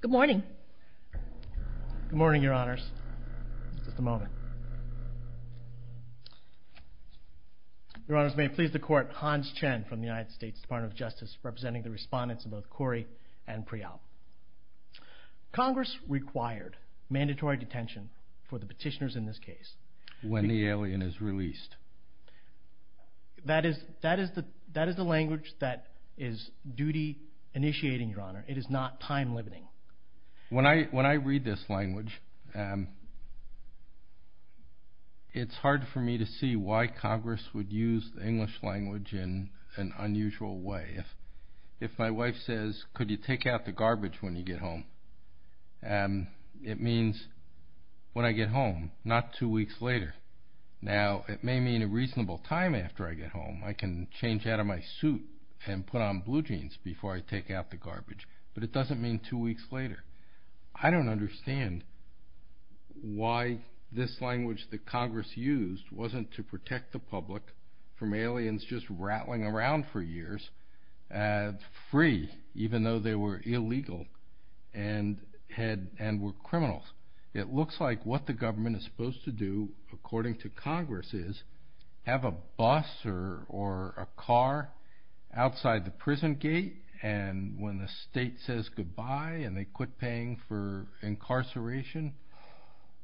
Good morning. Good morning, your honors. Just a moment. Your honors, may it please the court, Hans Chen from the United States Department of Justice, representing the respondents of both Khoury and Priyam. Congress required mandatory detention for the petitioners in this case. When the alien is released. That is the language that is duty initiating, your honor. It is not time limiting. When I read this language, it's hard for me to see why Congress would use the English language in an unusual way. If my wife says, could you take out the garbage when you get home? It means, when I get home, not two weeks later. Now, it may mean a reasonable time after I get home. I can change out of my suit and put on blue jeans before I take out the garbage. But it doesn't mean two weeks later. I don't understand why this language that Congress used wasn't to protect the public from aliens just rattling around for years free, even though they were illegal and were criminals. It looks like what the government is supposed to do, according to Congress, is have a bus or a car outside the prison gate. And when the state says goodbye and they quit paying for incarceration,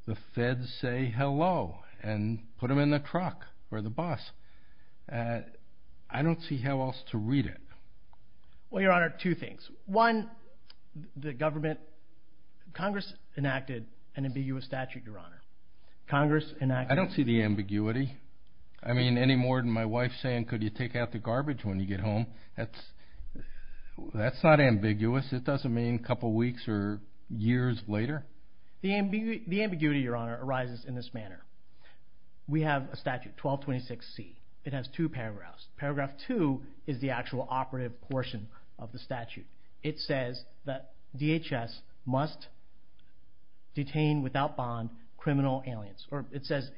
the feds say, hello, and put them in the truck or the bus. I don't see how else to read it. Well, your honor, two things. One, the government... Congress enacted an ambiguous statute, your honor. Congress enacted... I don't see the ambiguity. I mean, any more than my wife saying, could you take out the garbage when you get home? That's not ambiguous. It doesn't mean a couple weeks or years later. The ambiguity, your honor, arises in this manner. We have a statute, 1226C. It has two paragraphs. Paragraph two is the actual operative portion of the statute. It says that DHS must detain without bond criminal aliens, or it says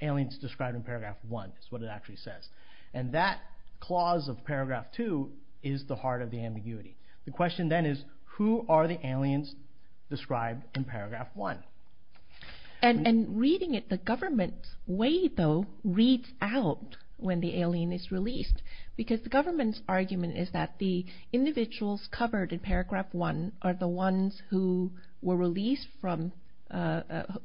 aliens described in paragraph one, is what it actually says. And that clause of paragraph two is the heart of the ambiguity. The question then is, who are the aliens described in paragraph one? And reading it the government's way, though, reads out when the alien is released. Because the government's argument is that the individuals covered in paragraph one are the ones who were released from...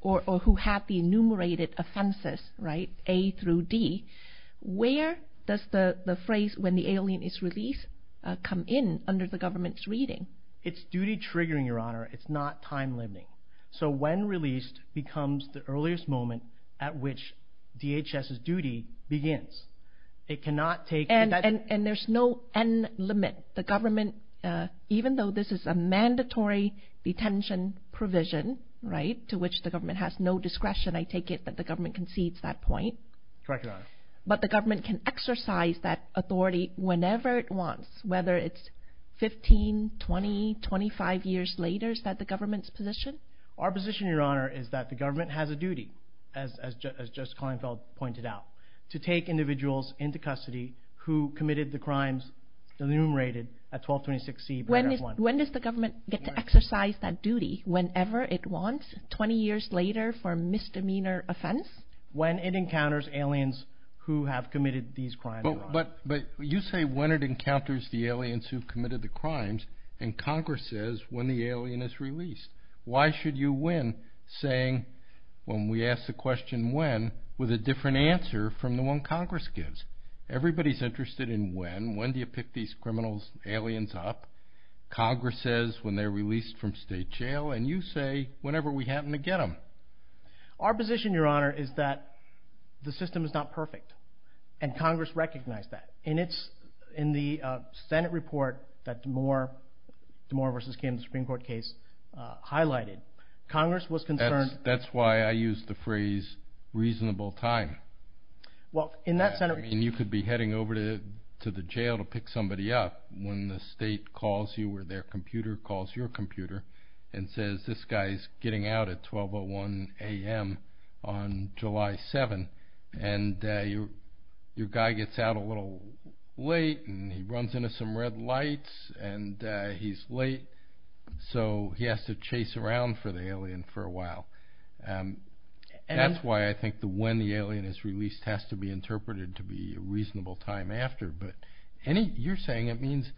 Or who had the enumerated offenses, right? A through D. Where does the phrase, when the alien is released, come in under the government's reading? It's duty triggering, your honor. It's not time limiting. So when released becomes the earliest moment at which DHS's duty begins. It cannot take... And there's no end limit. The government, even though this is a mandatory detention provision, right, to which the government has no discretion, I take it that the government concedes that point. Correct, your honor. But the government can exercise that authority whenever it wants, whether it's 15, 20, 25 years later, is that the government's position? Our position, your honor, is that the government has a duty, as Justice Klinefeld pointed out, to take individuals into custody who committed the crimes enumerated at 1226C paragraph one. When does the government get to exercise that duty, whenever it wants, 20 years later for a misdemeanor offense? When it encounters aliens who have committed these crimes. But you say, when it encounters the aliens who've committed the crimes, and Congress says, when the alien is released. Why should you win saying, when we ask the question, when, with a different answer from the one Congress gives? Everybody's interested in when. When do you pick these criminals, aliens up? Congress says, when they're released from state jail, and you say, whenever we happen to get them. Our position, your honor, is that the system is not perfect, and Congress recognized that. In the Senate report that DeMore versus Kim Supreme Court case highlighted, Congress was concerned... That's why I used the phrase, reasonable time. Well, in that Senate... You could be heading over to the jail to pick somebody up when the state calls you, or their computer calls your computer, and says, this guy's getting out at 1201 AM on July 7th, and your guy gets out a little late, and he runs into some red lights, and he's late, so he has to chase around for the alien for a while. And that's why I think the when the alien is released has to be interpreted to be a reasonable time after. But any... You're saying it means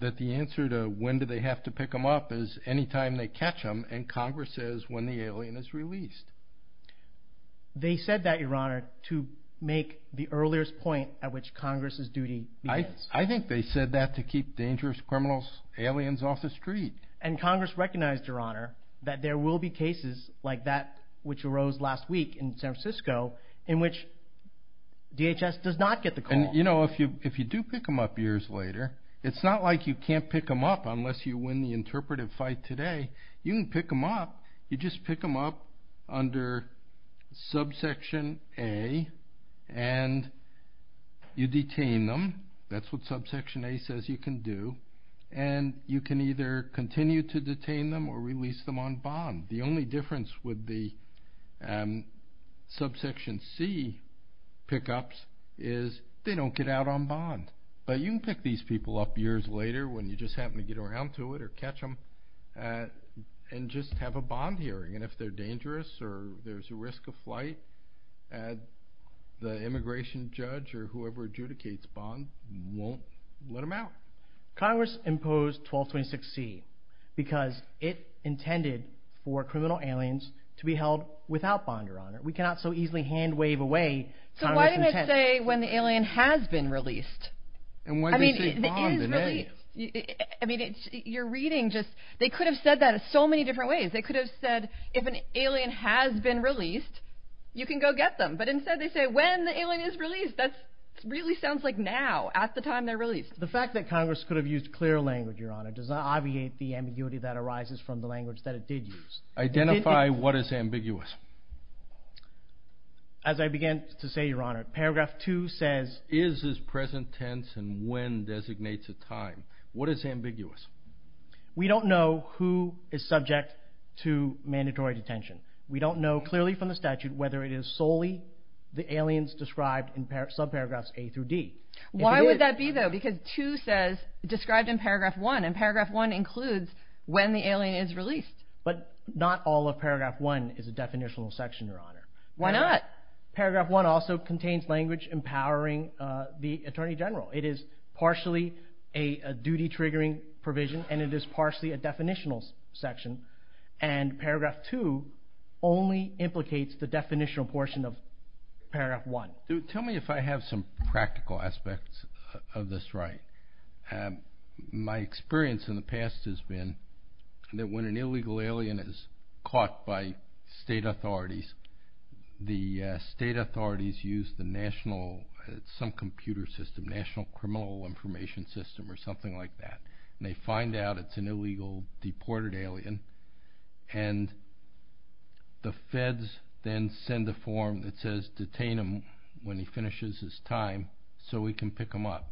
that the answer to, when do they have to pick them up, is any time they catch them, and Congress says, when the alien is released. They said that, your honor, to make the earliest point at which Congress's duty begins. I think they said that to keep dangerous criminals, aliens off the street. And Congress recognized, your honor, that there will be cases like that which arose last week in San Francisco, in which DHS does not get the call. And if you do pick them up years later, it's not like you can't pick them up unless you win the interpretive fight today. You can pick them up. You just pick them up under subsection A, and you detain them. That's what subsection A says you can do. And you can either continue to detain them or release them on bond. The only difference with the subsection C pickups is they don't get out on bond. But you can pick these people up years later when you just happen to get around to it or catch them, and just have a bond hearing. And if they're dangerous or there's a risk of flight, the immigration judge or whoever adjudicates bond won't let them out. Congress imposed 1226C because it intended for criminal aliens to be held without bond, your honor. We cannot so easily hand wave away Congress's intent. So why didn't it say when the alien has been released? And why didn't they say bond in A? You're reading just... They could have said that in so many different ways. They could have said, if an alien has been released, you can go get them. But instead they say, when the alien is released. That really sounds like now, at the time they're released. The fact that Congress could have used clear language, your honor, does not obviate the ambiguity that arises from the language that it did use. Identify what is ambiguous. As I began to say, your honor, paragraph two says... Is is present tense and when designates a time. What is ambiguous? We don't know who is subject to mandatory detention. We don't know clearly from the statute whether it is solely the aliens described in sub paragraphs A through D. Why would that be though? Because two says described in paragraph one, and paragraph one includes when the alien is released. But not all of paragraph one is a definitional section, your honor. Why not? Paragraph one also contains language empowering the attorney general. It is partially a duty triggering provision, and it is partially a definitional section. And paragraph two only implicates the definitional portion of paragraph one. Tell me if I have some practical aspects of this right. My experience in the past has been that when an illegal alien is caught by state authorities, the state authorities use the national, some computer system, national criminal information system or something like that. And they find out it's an illegal deported alien, and the feds then send a form that says detain him when he finishes his time so we can pick him up.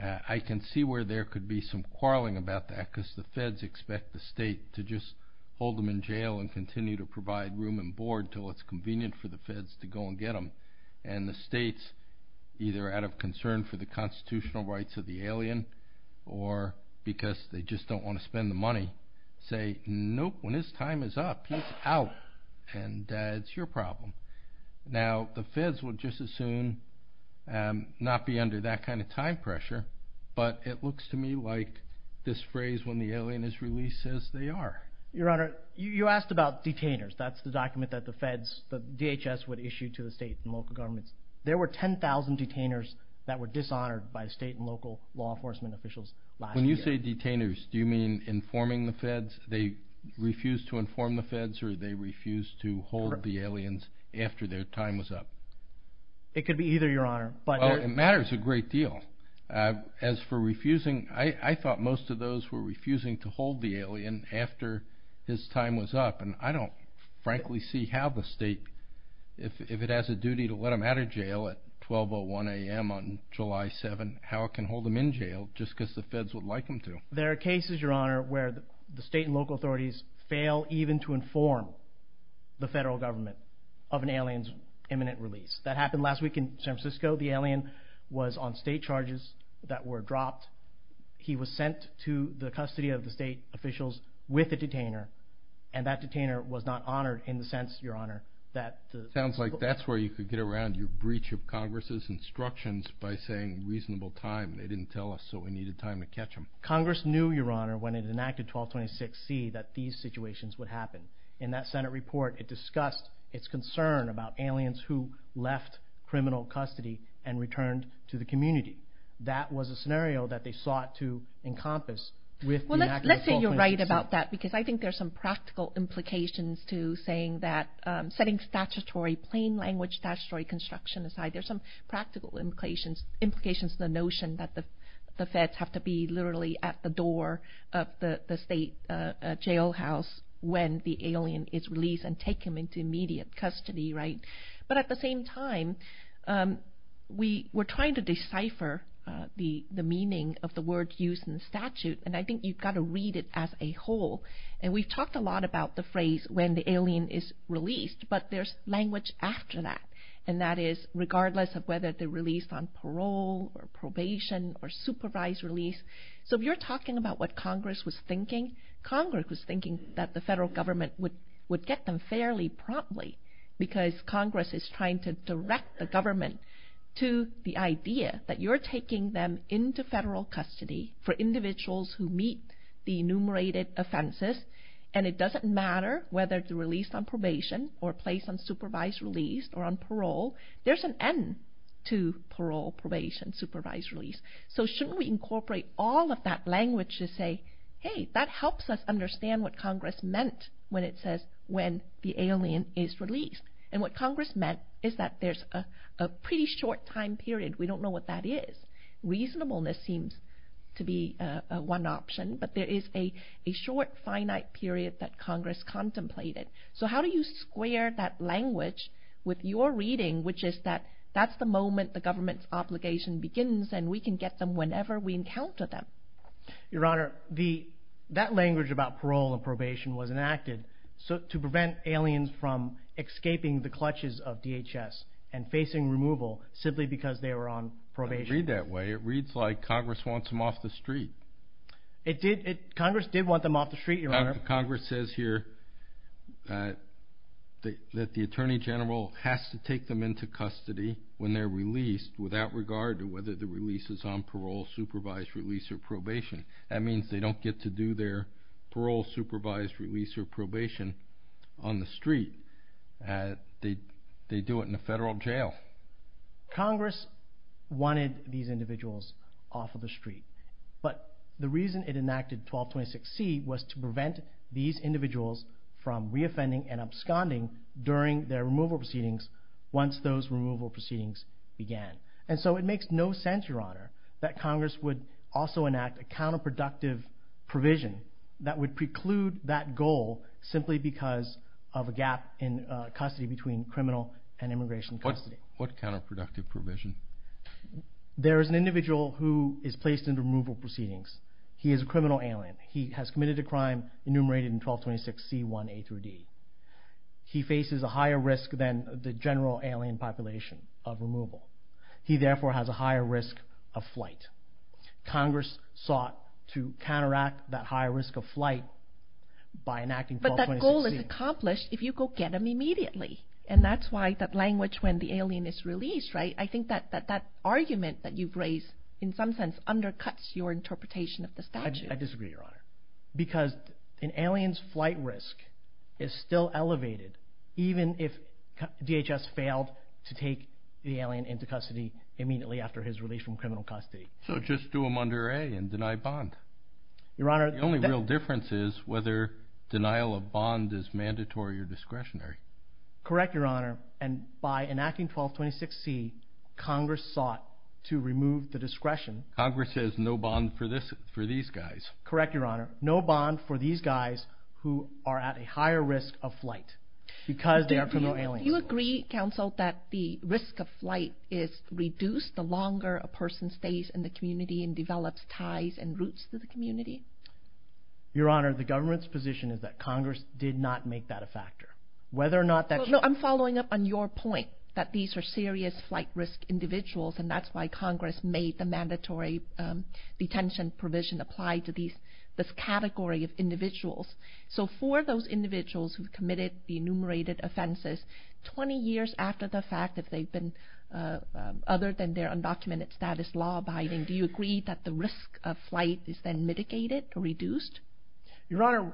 I can see where there could be some quarreling about that because the feds expect the state to just hold them in jail and continue to provide room and board till it's convenient for the feds to go and get them. And the states, either out of concern for the constitutional rights of the alien, or because they just don't wanna spend the money, say, nope, when his time is up, he's out, and that's your problem. Now, the feds would just as soon not be under that kind of time pressure, but it looks to me like this phrase, when the alien is released, says they are. Your honor, you asked about detainers. That's the document that the feds, the DHS would issue to the state and local governments. There were 10,000 detainers that were dishonored by state and local law enforcement officials last year. When you say detainers, do you mean informing the feds? They refuse to inform the feds or they refuse to hold the aliens after their time was up? It could be either, your honor, but... Well, it matters a great deal. As for refusing, I thought most of those were refusing to hold the alien after his time was up, and I don't, frankly, see how the state, if it has a duty to let him out of jail at 12.01 AM on July 7th, how it can hold him in jail just because the feds would like him to. There are cases, your honor, where the state and local authorities fail even to inform the federal government of an alien's imminent release. That happened last week in San Francisco. The alien was on state charges that were dropped. He was sent to the custody of the state officials with a detainer, and that detainer was not honored in the sense, your honor, that... Sounds like that's where you could get around your breach of Congress's instructions by saying, reasonable time. They didn't tell us, so we needed time to catch him. Congress knew, your honor, when it enacted 12.26 C, that these situations would happen. In that Senate report, it discussed its concern about aliens who left criminal custody and returned to the community. That was a scenario that they sought to encompass with the enactment of 12.26 C. Well, let's say you're right about that, because I think there's some practical implications to saying that... Setting statutory, plain language statutory construction aside, there's some practical implications to the notion that the feds have to be literally at the door of the state jailhouse when the alien is released and take him into immediate custody, right? But at the same time, we're trying to decipher the meaning of the word used in the statute, and I think you've gotta read it as a whole. And we've talked a lot about the phrase, when the alien is released, but there's language after that, and that is, regardless of whether they're released on parole or probation or supervised release. So if you're talking about what Congress was thinking, Congress was thinking that the federal government would get them fairly promptly, because Congress is trying to direct the government to the idea that you're taking them into federal custody for individuals who meet the enumerated offenses, and it doesn't matter whether they're released on probation or placed on supervised release or on parole, there's an end to parole, probation, supervised release. So shouldn't we incorporate all of that language to say, hey, that helps us understand what Congress meant when it says when the alien is released. And what Congress meant is that there's a pretty short time period, we don't know what that is. Reasonableness seems to be one option, but there is a short finite period that Congress contemplated. So how do you square that language with your reading, which is that that's the moment the government's obligation begins and we can get them whenever we encounter them? Your Honor, that language about parole and probation was enacted to prevent aliens from escaping the clutches of DHS and facing removal simply because they were on probation. I read that way. It reads like Congress wants them off the street. Congress did want them off the street, Your Honor. Congress says here, that the Attorney General has to take them into custody when they're released without regard to whether the release is on parole, supervised release or probation. That means they don't get to do their parole, supervised release or probation on the street. They do it in a federal jail. Congress wanted these individuals off of the street, but the reason it enacted 1226C was to prevent these individuals from reoffending and absconding during their removal proceedings once those removal proceedings began. And so it makes no sense, Your Honor, that Congress would also enact a counterproductive provision that would preclude that goal simply because of a gap in custody between criminal and immigration custody. What counterproductive provision? There is an individual who is placed into removal proceedings. He is a general alien. He has committed a crime enumerated in 1226C1A-D. He faces a higher risk than the general alien population of removal. He therefore has a higher risk of flight. Congress sought to counteract that higher risk of flight by enacting 1226C. But that goal is accomplished if you go get them immediately. And that's why that language when the alien is released, right? I think that that argument that you've raised in some sense undercuts your interpretation of the statute. I disagree, Your Honor, because an alien's flight risk is still elevated even if DHS failed to take the alien into custody immediately after his release from criminal custody. So just do him under A and deny bond. Your Honor... The only real difference is whether denial of bond is mandatory or discretionary. Correct, Your Honor. And by enacting 1226C, Congress sought to remove the discretion. Congress says no bond for these guys. Correct, Your Honor. No bond for these guys who are at a higher risk of flight because they are criminal aliens. Do you agree, counsel, that the risk of flight is reduced the longer a person stays in the community and develops ties and roots to the community? Your Honor, the government's position is that Congress did not make that a factor. Whether or not that... No, I'm following up on your point that these are serious flight risk individuals and that's why Congress made the mandatory detention provision apply to this category of individuals. So for those individuals who've committed the enumerated offenses, 20 years after the fact, if they've been... Other than their undocumented status law abiding, do you agree that the risk of flight is then mitigated or reduced? Your Honor,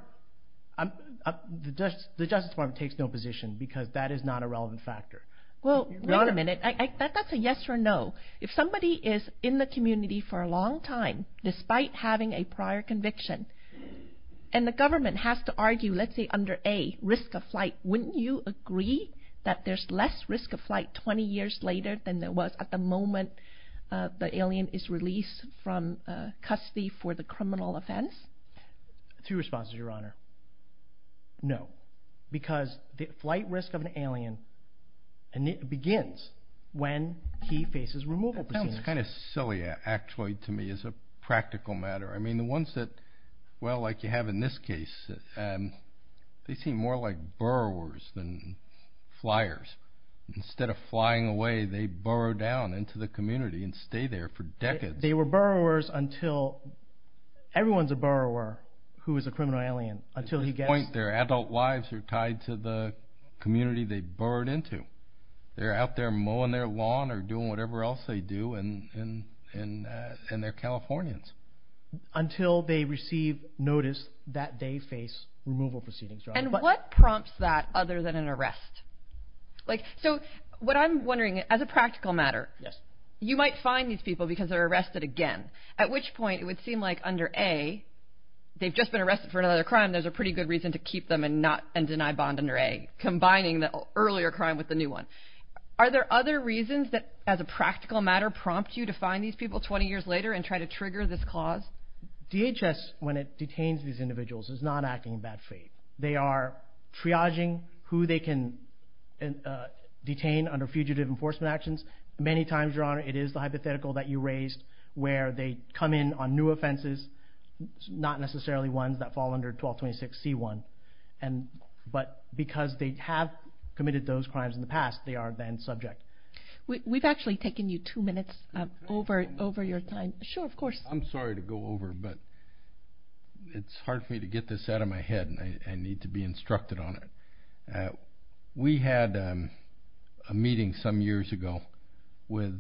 the Justice Department takes no position because that is not a relevant factor. Well, wait a minute. That's a yes or no. If somebody is in the community for a long time, despite having a prior conviction, and the government has to argue, let's say under A, risk of flight, wouldn't you agree that there's less risk of flight 20 years later than there was at the moment the alien is released from custody for the two responses, Your Honor? No, because the flight risk of an alien begins when he faces removal proceedings. That sounds kind of silly, actually, to me, as a practical matter. I mean, the ones that... Well, like you have in this case, they seem more like borrowers than flyers. Instead of flying away, they borrow down into the community and stay there for decades. They were borrowers until... Who is a criminal alien, until he gets... At this point, their adult lives are tied to the community they borrowed into. They're out there mowing their lawn or doing whatever else they do, and they're Californians. Until they receive notice that they face removal proceedings, Your Honor. And what prompts that other than an arrest? So what I'm wondering, as a practical matter, you might find these people because they're arrested again, at which point it would seem like under A, they've just been arrested for another crime, there's a pretty good reason to keep them and deny bond under A, combining the earlier crime with the new one. Are there other reasons that, as a practical matter, prompt you to find these people 20 years later and try to trigger this clause? DHS, when it detains these individuals, is not acting in bad faith. They are triaging who they can detain under fugitive enforcement actions. Many times, Your Honor, it is the hypothetical that you raised, where they come in on new offenses, not necessarily ones that fall under 1226 C1. But because they have committed those crimes in the past, they are then subject. We've actually taken you two minutes over your time. Sure, of course. I'm sorry to go over, but it's hard for me to get this out of my head, and I need to be instructed on it. We had a meeting some years ago with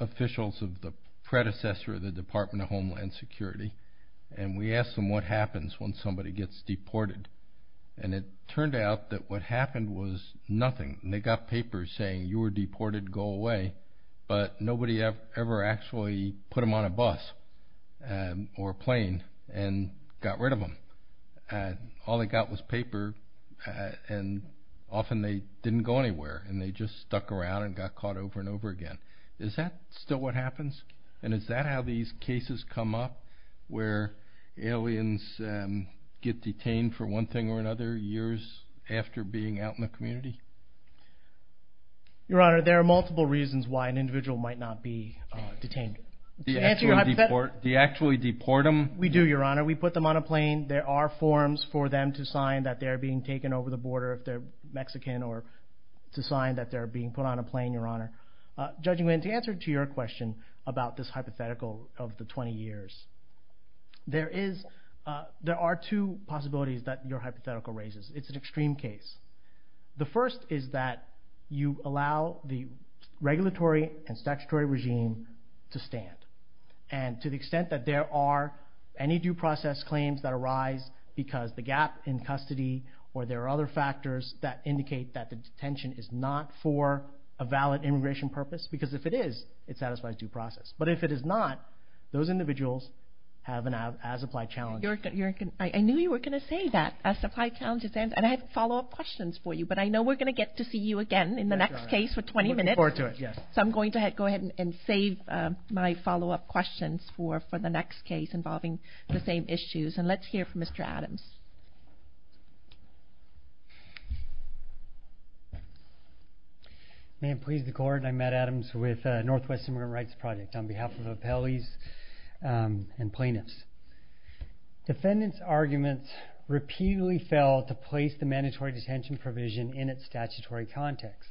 officials of the predecessor of the Department of Homeland Security, and we asked them what happens when somebody gets deported. And it turned out that what happened was nothing. They got papers saying, you were deported, go away. But nobody ever actually put them on a plane. All they got was paper, and often they didn't go anywhere, and they just stuck around and got caught over and over again. Is that still what happens? And is that how these cases come up, where aliens get detained for one thing or another years after being out in the community? Your Honor, there are multiple reasons why an individual might not be detained. To answer your hypothetical... Do you actually deport them? We do, Your Honor. We put them on a plane. There are forms for them to sign that they're being taken over the border if they're Mexican, or to sign that they're being put on a plane, Your Honor. Judging when to answer to your question about this hypothetical of the 20 years, there are two possibilities that your hypothetical raises. It's an extreme case. The first is that you allow the regulatory and statutory regime to stand. And to the extent that there are any due process claims that arise because the gap in custody, or there are other factors that indicate that the detention is not for a valid immigration purpose, because if it is, it satisfies due process. But if it is not, those individuals have an as applied challenge. I knew you were gonna say that, as applied challenge. And I have follow up questions for you, but I know we're gonna get to see you again in the next case for 20 minutes. I'm looking forward to it, yes. So I'm going to go ahead and save my follow up questions for the next case involving the same issues. And let's hear from Mr. Adams. May it please the court, I'm Matt Adams with Northwest Immigrant Rights Project on behalf of appellees and plaintiffs. Defendants' arguments repeatedly fell to place the mandatory detention provision in its statutory context.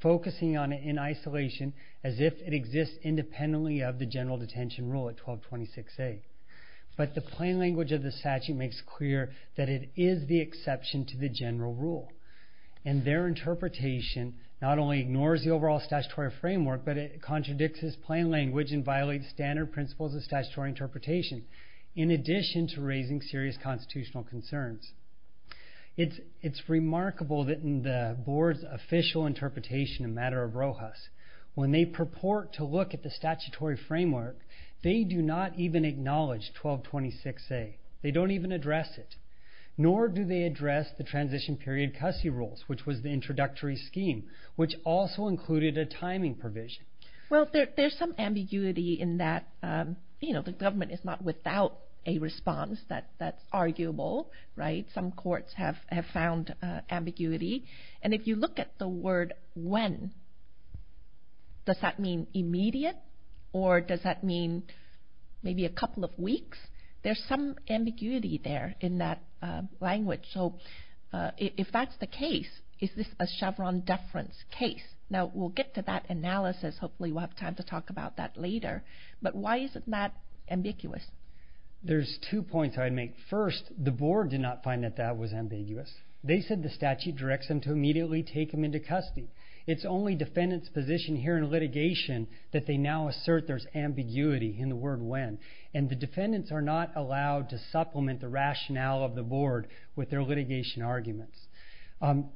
Focusing on it in isolation as if it exists independently of the general detention rule at 1226A. But the plain language of the statute makes clear that it is the exception to the general rule. And their interpretation not only ignores the overall statutory framework, but it contradicts its plain language and violates standard principles of statutory interpretation, in addition to raising serious constitutional concerns. It's remarkable that in the board's official interpretation in matter of Rojas, when they purport to look at the statutory framework, they do not even acknowledge 1226A. They don't even address it. Nor do they address the transition period custody rules, which was the introductory scheme, which also included a timing provision. Well, there's some ambiguity in that the government is not without a response that's arguable. Some courts have found ambiguity. And if you look at the word, when, does that mean immediate? Or does that mean maybe a couple of weeks? There's some ambiguity there in that language. So if that's the case, is this a Chevron deference case? Now, we'll get to that analysis. Hopefully, we'll have time to talk about that ambiguous. There's two points I'd make. First, the board did not find that that was ambiguous. They said the statute directs them to immediately take him into custody. It's only defendants' position here in litigation that they now assert there's ambiguity in the word, when. And the defendants are not allowed to supplement the rationale of the board with their litigation arguments.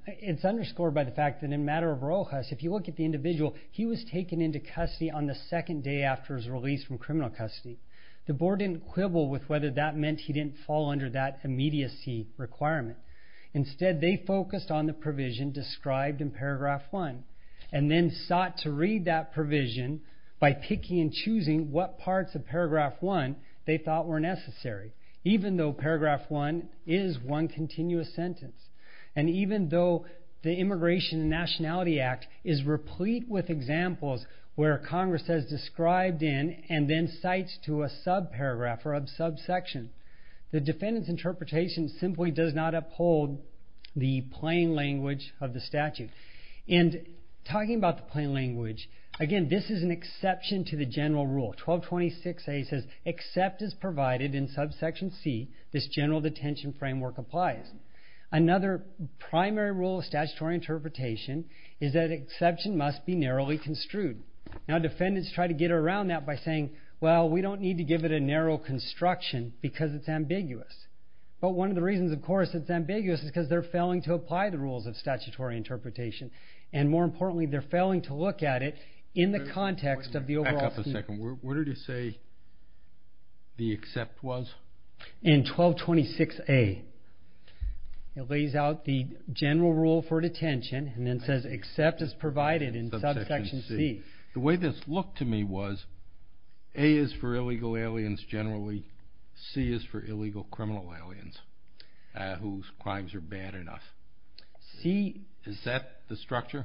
It's underscored by the fact that in matter of Rojas, if you look at the individual, he was taken into custody on the basis of the statute. The board didn't quibble with whether that meant he didn't fall under that immediacy requirement. Instead, they focused on the provision described in paragraph one, and then sought to read that provision by picking and choosing what parts of paragraph one they thought were necessary, even though paragraph one is one continuous sentence. And even though the Immigration and Nationality Act is replete with examples where Congress has described in, and then cites to a subparagraph or a subsection, the defendant's interpretation simply does not uphold the plain language of the statute. And talking about the plain language, again, this is an exception to the general rule. 1226A says, except as provided in subsection C, this general detention framework applies. Another primary rule of statutory interpretation is that exception must be approved. Now, defendants try to get around that by saying, well, we don't need to give it a narrow construction because it's ambiguous. But one of the reasons, of course, it's ambiguous is because they're failing to apply the rules of statutory interpretation. And more importantly, they're failing to look at it in the context of the overall... Back up a second. Where did it say the except was? In 1226A. It lays out the general rule for detention, and then says, except as provided in subsection C. Subsection C. The way this looked to me was, A is for illegal aliens generally, C is for illegal criminal aliens whose crimes are bad enough. C... Is that the structure?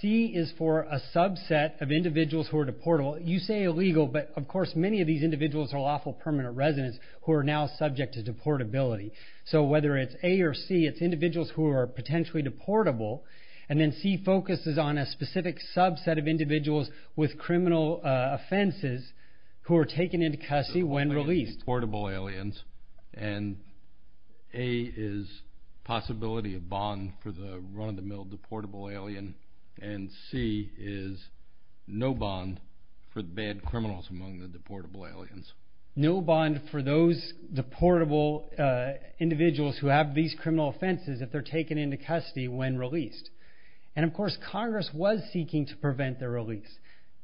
C is for a subset of individuals who are deportable. You say illegal, but of course, many of these individuals are lawful permanent residents who are now subject to deportability. So whether it's A or C, it's individuals who are potentially deportable. And then C focuses on a specific subset of individuals with criminal offenses who are taken into custody when released. Portable aliens, and A is possibility of bond for the run of the mill deportable alien, and C is no bond for the bad criminals among the deportable aliens. No bond for those deportable individuals who have these criminal offenses if they're taken into custody when released. And of course, Congress was seeking to prevent their release.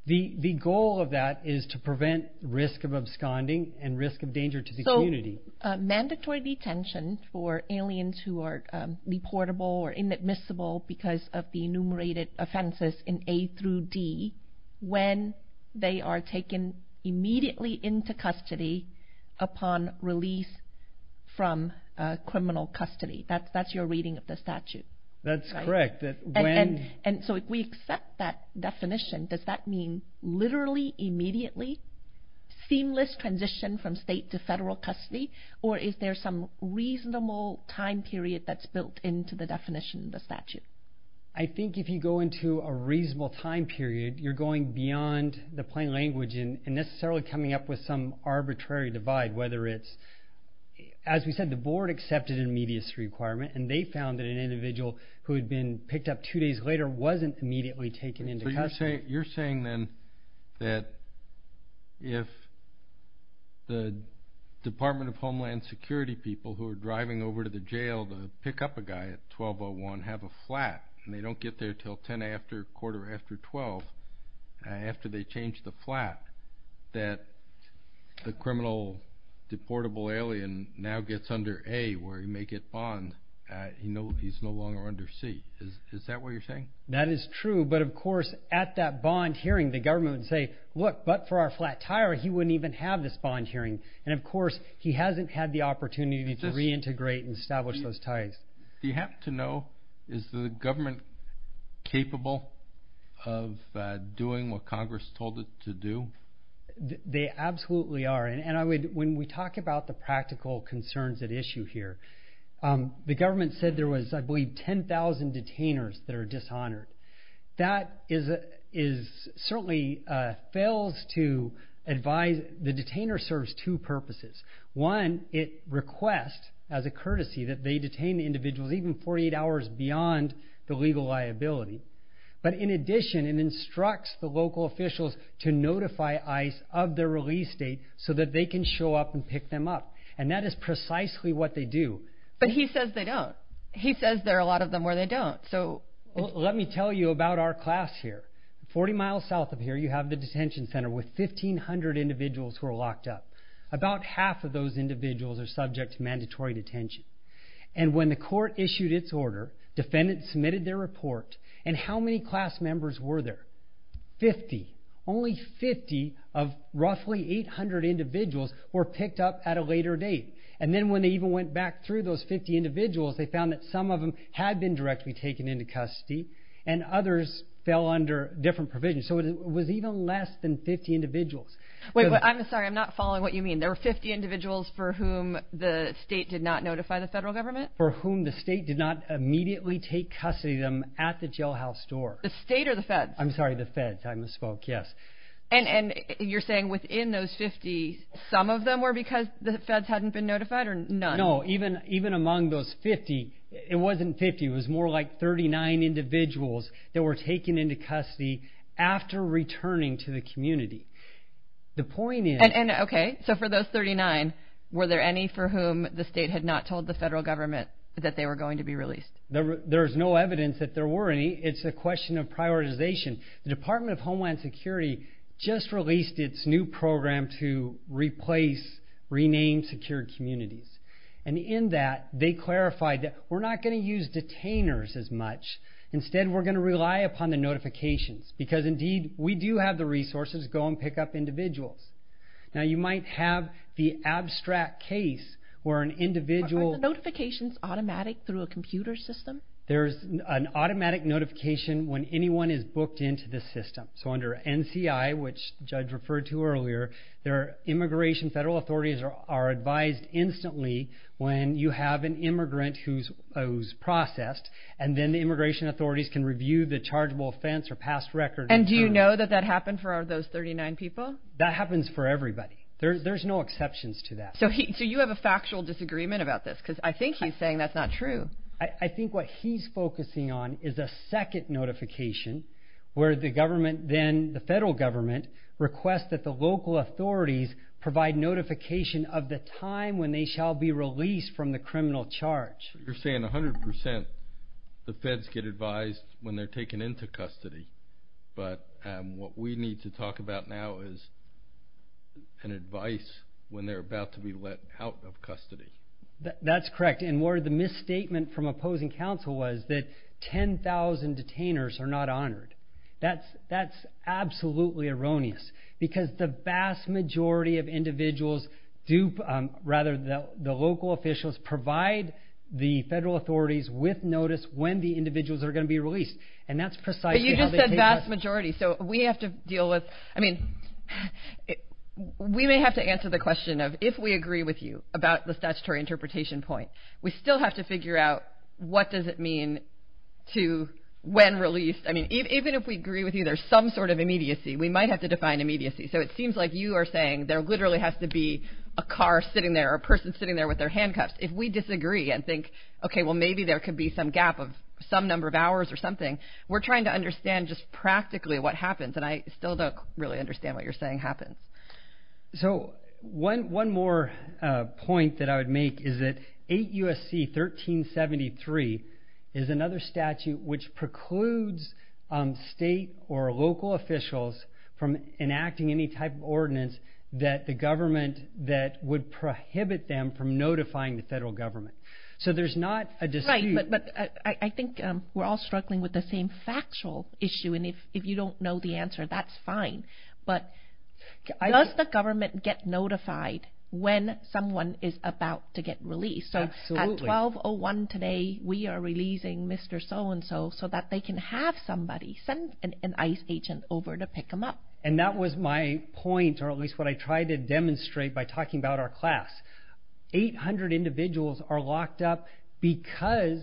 The goal of that is to prevent risk of absconding and risk of danger to the community. So mandatory detention for aliens who are deportable or inadmissible because of the enumerated offenses in A through D, when they are taken immediately into custody upon release from a criminal custody. That's your reading of the statute. That's correct. And so if we accept that definition, does that mean literally, immediately, seamless transition from state to federal custody? Or is there some reasonable time period that's built into the definition of the statute? I think if you go into a reasonable time period, you're going beyond the plain language and necessarily coming up with some arbitrary divide, whether it's... As we said, the board accepted an immediacy requirement, and they found that an individual who had been picked up two days later wasn't immediately taken into custody. So you're saying then that if the Department of Homeland Security people who are driving over to the jail to pick up a guy at 1201 have a flat, and they don't get there till 10 after, quarter after 12, after they change the flat, that the criminal deportable alien now gets under A, where he may get bond, he's no longer under C. Is that what you're saying? That is true. But of course, at that bond hearing, the government would say, look, but for our flat tire, he wouldn't even have this bond hearing. And of course, he hasn't had the opportunity to reintegrate and establish those ties. Do you happen to know, is the government capable of doing what Congress told it to do? They absolutely are. And when we talk about the practical concerns at issue here, the government said there was, I believe, 10,000 detainers that are dishonored. That is certainly... Fails to advise... The detainer serves two as a courtesy, that they detain the individuals even 48 hours beyond the legal liability. But in addition, it instructs the local officials to notify ICE of their release date so that they can show up and pick them up. And that is precisely what they do. But he says they don't. He says there are a lot of them where they don't. So... Let me tell you about our class here. 40 miles south of here, you have the detention center with 1500 individuals who are locked up. About half of those individuals are subject to mandatory detention. And when the court issued its order, defendants submitted their report. And how many class members were there? 50. Only 50 of roughly 800 individuals were picked up at a later date. And then when they even went back through those 50 individuals, they found that some of them had been directly taken into custody, and others fell under different provisions. So it was even less than 50 individuals. Wait, I'm sorry, I'm not following what you mean. There were 50 individuals for whom the state did not notify the federal government? For whom the state did not immediately take custody of them at the jailhouse door. The state or the feds? I'm sorry, the feds. I misspoke, yes. And you're saying within those 50, some of them were because the feds hadn't been notified or none? No, even among those 50, it wasn't 50. It was more like 39 individuals that were taken into custody after returning to the community. The point is... Okay, so for those 39, were there any for whom the state had not told the federal government that they were going to be released? There's no evidence that there were any. It's a question of prioritization. The Department of Homeland Security just released its new program to replace renamed secured communities. And in that, they clarified that we're not gonna use detainers as much. Instead, we're gonna rely upon the notifications. Because indeed, we do have the resources to go and pick up individuals. Now, you might have the abstract case where an individual... Are the notifications automatic through a computer system? There's an automatic notification when anyone is booked into the system. So under NCI, which Judge referred to earlier, their immigration federal authorities are advised instantly when you have an immigrant who's processed, and then the immigration authorities can review the chargeable offense or past record. And do you know that that happened for those 39 people? That happens for everybody. There's no exceptions to that. So you have a factual disagreement about this? Because I think he's saying that's not true. I think what he's focusing on is a second notification where the government, then the federal government, requests that the local authorities provide notification of the time when they shall be released from the criminal charge. You're saying 100% the federal government is advised when they're taken into custody, but what we need to talk about now is an advice when they're about to be let out of custody. That's correct. And more of the misstatement from opposing counsel was that 10,000 detainers are not honored. That's absolutely erroneous. Because the vast majority of individuals do... Rather, the local officials provide the information when they're going to be released. And that's precisely how they take us... But you just said vast majority. So we have to deal with... I mean, we may have to answer the question of if we agree with you about the statutory interpretation point, we still have to figure out what does it mean to when released. I mean, even if we agree with you, there's some sort of immediacy. We might have to define immediacy. So it seems like you are saying there literally has to be a car sitting there or a person sitting there with their handcuffs. If we disagree and think, okay, well, maybe there could be some gap of some number of hours or something, we're trying to understand just practically what happens. And I still don't really understand what you're saying happens. So one more point that I would make is that 8 U.S.C. 1373 is another statute which precludes state or local officials from enacting any type of ordinance that the government that would prohibit them from notifying the federal government. So there's not a I think we're all struggling with the same factual issue. And if you don't know the answer, that's fine. But does the government get notified when someone is about to get released? So at 1201 today, we are releasing Mr. So-and-so so that they can have somebody send an ICE agent over to pick him up. And that was my point, or at least what I tried to demonstrate by talking about our class. 800 individuals are locked up because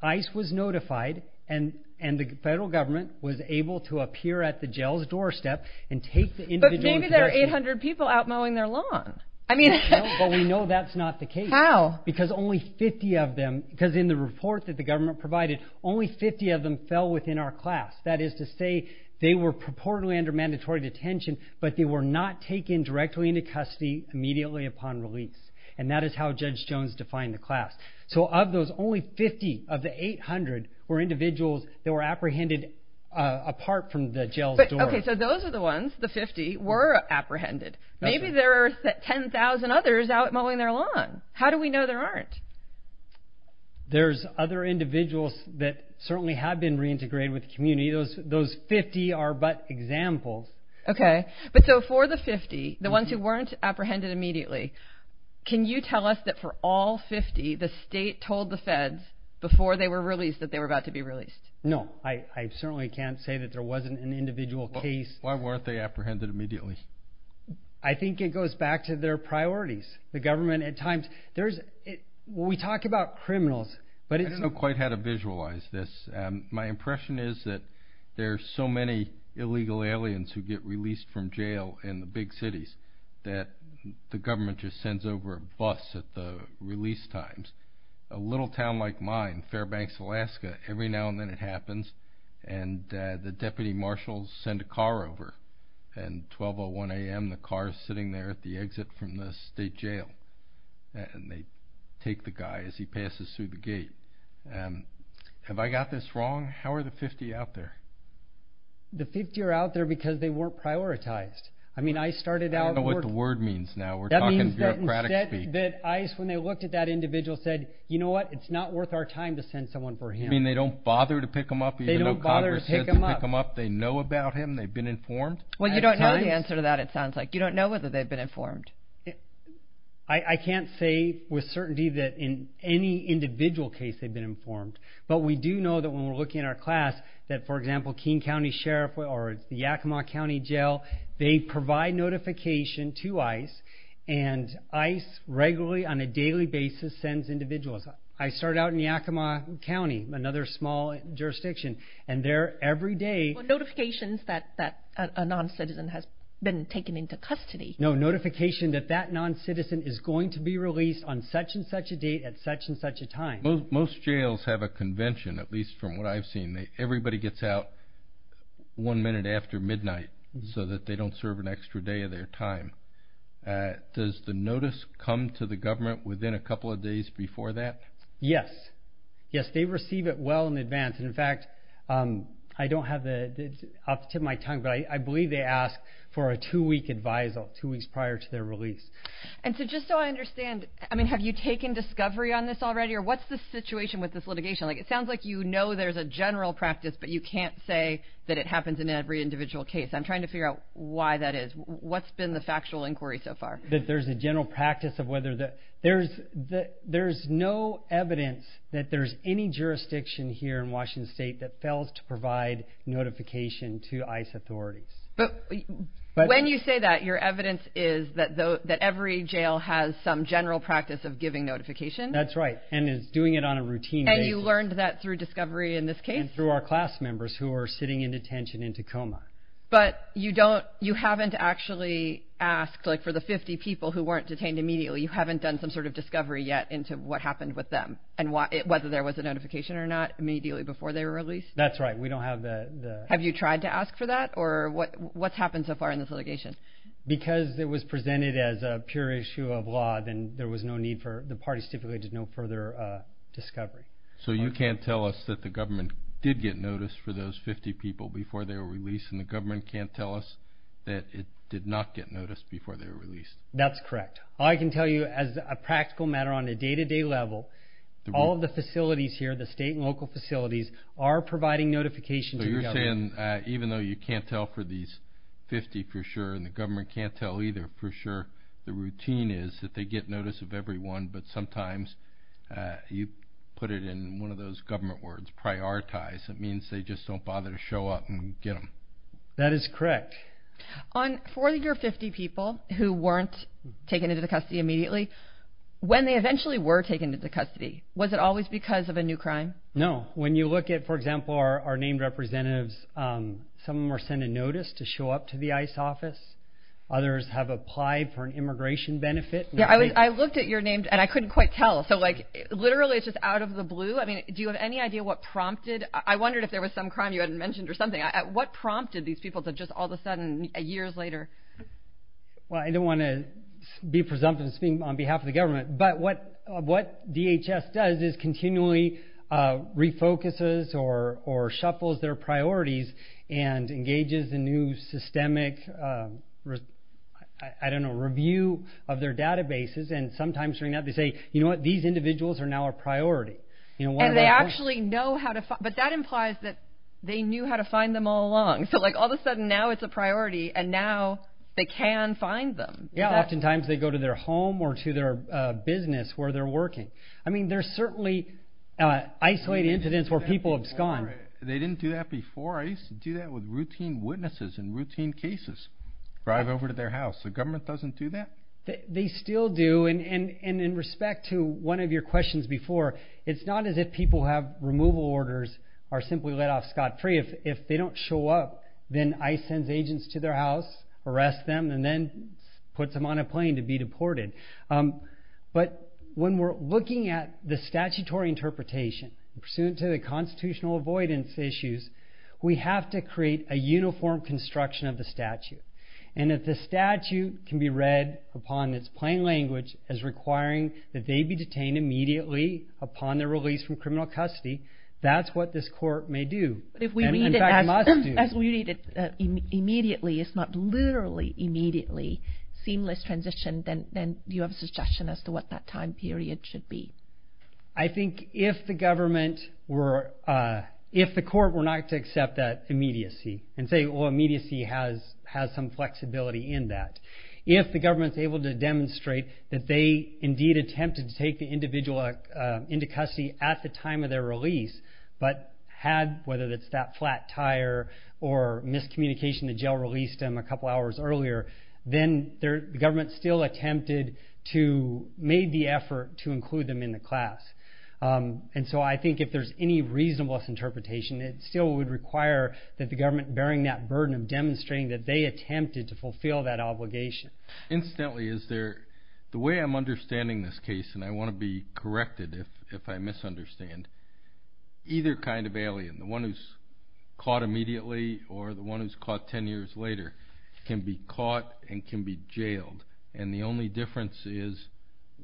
ICE was notified and the federal government was able to appear at the jail's doorstep and take the individual But maybe there are 800 people out mowing their lawn. I mean, no, but we know that's not the case. How? Because only 50 of them, because in the report that the government provided, only 50 of them fell within our class. That is to say, they were purportedly under mandatory detention, but they were not taken directly into custody immediately upon release. And that is how Judge Jones defined the class. So of those, only 50 of the 800 were individuals that were apprehended apart from the jail's door. Okay, so those are the ones, the 50, were apprehended. Maybe there are 10,000 others out mowing their lawn. How do we know there aren't? There's other individuals that certainly have been reintegrated with the community. Those 50 are but examples. Okay, but so for the 50, the ones who weren't apprehended immediately, can you tell us that for all 50, the state told the feds before they were released that they were about to be released? No, I certainly can't say that there wasn't an individual case. Why weren't they apprehended immediately? I think it goes back to their priorities. The government at times, there's, we talk about criminals, but it's... I don't know quite how to visualize this. My impression is that there are so many illegal aliens who get released from jail in the big cities that the government just sends over a bus at the release times. A little town like mine, Fairbanks, Alaska, every now and then it happens and the deputy marshals send a car over and 12.01 AM, the car's sitting there at the exit from the state jail and they take the guy as he passes through the gate. Have I got this wrong? How are the 50 out there? The 50 are out there because they weren't prioritized. I mean, ICE started out... I don't know what the word means now. We're talking bureaucratic speech. That means that ICE, when they looked at that individual, said, you know what, it's not worth our time to send someone for him. You mean they don't bother to pick him up even though Congress says to pick him up? They know about him? They've been informed? Well, you don't know the answer to that, it sounds like. You don't know whether they've been informed. I can't say with certainty that in any individual case they've been informed, but we do know that when we're looking at our class that, for example, King County Sheriff or the Yakima County Jail, they provide notification to ICE and ICE regularly on a daily basis sends individuals. I started out in Yakima County, another small jurisdiction, and there every day... Notifications that a non-citizen has been taken into custody. No, notification that that non-citizen is going to be released on such and such a date at such and such a time. Most jails have a convention, at least from what I've seen. Everybody gets out one minute after midnight so that they don't serve an extra day of their time. Does the notice come to the government within a couple of days before that? Yes. Yes, they receive it well in advance. In fact, I don't have the... I'll tip my tongue, but I believe they ask for a two-week advisal, two weeks prior to their release. And so just so I understand, I mean, have you taken discovery on this already or what's the situation with this litigation? Like, it sounds like you know there's a general practice, but you can't say that it happens in every individual case. I'm trying to figure out why that is. What's been the factual inquiry so far? That there's a general practice of whether the... There's no evidence that there's any jurisdiction here in Washington State that fails to provide notification to ICE authorities. But when you say that, your evidence is that every jail has some general practice of giving notification? That's right. And it's doing it on a routine basis. And you learned that through discovery in this case? And through our class members who are sitting in detention in Tacoma. But you haven't actually asked, like for the 50 people who weren't detained immediately, you haven't done some sort of discovery yet into what happened with them and whether there was a notification or not immediately before they were released? That's right. We don't have the... Have you tried to ask for that or what's happened so far in this litigation? Because it was presented as a pure issue of law, then there was no need for... The parties typically did no further discovery. So you can't tell us that the government did get notice for those 50 people before they were released and the government can't tell us that it did not get notice before they were released? That's correct. I can tell you as a practical matter on a day-to-day level, all of the facilities here, the state and local facilities, are providing notification to the government. So you're saying even though you can't tell for these 50 for sure and the government can't tell either for sure, the routine is that they get notice of everyone, but sometimes you put it in one of those government words, prioritize. It means they just don't bother to show up and get them. That is correct. On 40 or 50 people who weren't taken into the custody immediately, when they eventually were taken into custody, was it always because of a new crime? No. When you look at, for example, our named representatives, some of them were sent a notice to show up to the ICE office. Others have applied for an immigration benefit. I looked at your name and I couldn't quite tell. So literally, it's just out of the blue. Do you have any idea what prompted? I wondered if there was some crime you hadn't mentioned or something. What prompted these people to just all of a sudden, years later? Well, I don't want to be presumptive on behalf of the government, but what DHS does is continually refocuses or shuffles their priorities and engages in new systemic, I don't know, review of their databases. And sometimes during that, they say, you know what, these individuals are now a priority. And they actually know how to find them. But that implies that they knew how to find them all along. So like all of a sudden, now it's a priority and now they can find them. Yeah, oftentimes they go to their home or to their business where they're working. I mean, there's certainly isolated incidents where people abscond. They didn't do that before. I used to do that with routine witnesses and routine cases. Drive over to their house. The government doesn't do that? They still do. And in respect to one of your questions before, it's not as if people who have removal orders are simply let off scot-free. If they don't show up, then ICE sends agents to their house, arrests them, and then puts them on a plane to be deported. But when we're looking at the statutory interpretation, pursuant to the constitutional avoidance issues, we have to create a uniform construction of the statute. And if the statute can be read upon in its plain language as requiring that they be detained immediately upon their release from criminal custody, that's what this court may do. But if we read it as we read it immediately, it's not literally immediately seamless transition, then do you have a suggestion as to what that time period should be? I think if the court were not to accept that immediacy, and say, well, immediacy has some flexibility in that. If the government's able to demonstrate that they indeed attempted to take the individual into custody at the time of their release, but had, whether it's that flat tire or miscommunication, the jail released them a couple hours earlier, then the government still attempted to, made the effort to include them in the class. And so I think if there's any reasonableness interpretation, it still would require that the government bearing that burden of demonstrating that they attempted to fulfill that obligation. Incidentally, is there, the way I'm understanding this case, and I want to be corrected if I misunderstand, either kind of alien, the one who's caught immediately, or the one who's caught ten years later, can be caught and can be jailed. And the only difference is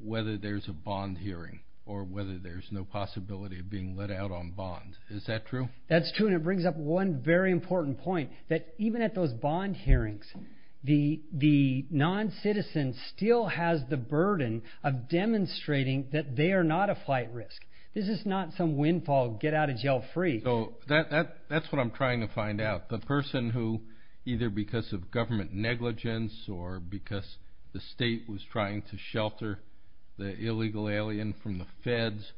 whether there's a bond hearing, or whether there's no possibility of being let out on bond. Is that true? That's true, and it brings up one very important point, that even at those bond hearings, the non-citizen still has the burden of demonstrating that they are not a flight risk. This is not some windfall, get out of jail free. So that's what I'm trying to find out. The person who, either because of government negligence, or because the state was trying to shelter the illegal alien from the feds,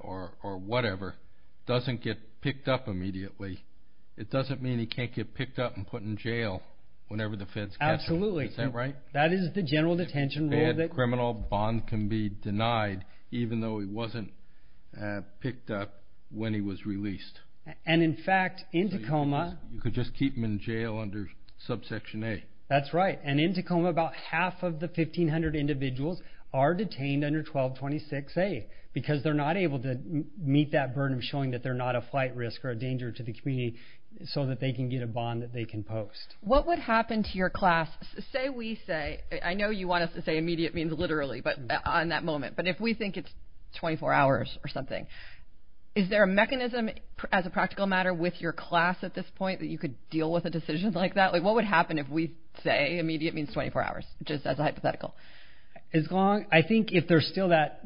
or whatever, doesn't get picked up immediately. It doesn't mean he can't get picked up and put in jail whenever the feds catch him. Absolutely. Is that right? That is the general detention rule. A criminal bond can be denied, even though he wasn't picked up when he was released. And in fact, in Tacoma... You could just keep him in jail under subsection A. That's right, and in Tacoma, about half of the 1,500 individuals are detained under 1226A, because they're not able to meet that burden of showing that they're not a flight risk, or a danger to the community, so that they can get a bond that they can post. What would happen to your class, say we say, I know you want us to say immediate means literally, but on that moment, but if we think it's 24 hours or something, is there a mechanism as a practical matter with your class at this point that you could deal with a decision like that? What would happen if we say immediate means 24 hours, just as a hypothetical? As long, I think if there's still that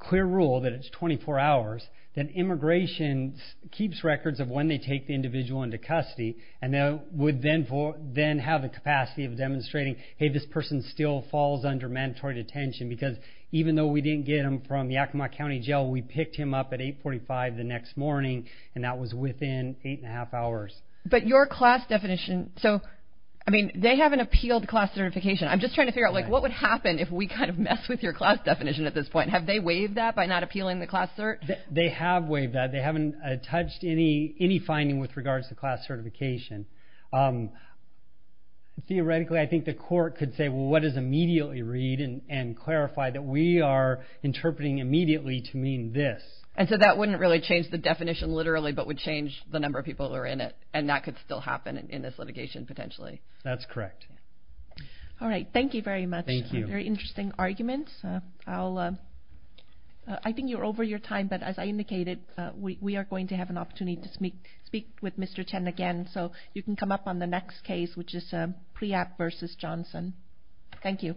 clear rule that it's 24 hours, that immigration keeps records of when they take the individual into custody, and they would then have the capacity of demonstrating, hey, this person still falls under mandatory detention, because even though we didn't get him from Yakima County Jail, we picked him up at 845 the next morning, and that was within eight and a half hours. But your class definition, so, I mean, they haven't appealed class certification. I'm just trying to figure out, like, what would happen if we kind of mess with your class definition at this point? Have they waived that by not appealing the class cert? They have waived that. They haven't touched any finding with regards to class certification. Theoretically, I think the court could say, well, what does immediately read, and clarify that we are interpreting immediately to mean this. And so that wouldn't really change the definition literally, but would change the number of people that are in it, and that could still happen in this litigation, potentially. That's correct. All right. Thank you very much. Thank you. Very interesting arguments. I think you're over your time, but as I indicated, we are going to have an opportunity to speak with Mr. Chen again. So you can come up on the next case, which is Priyat v. Johnson. Thank you.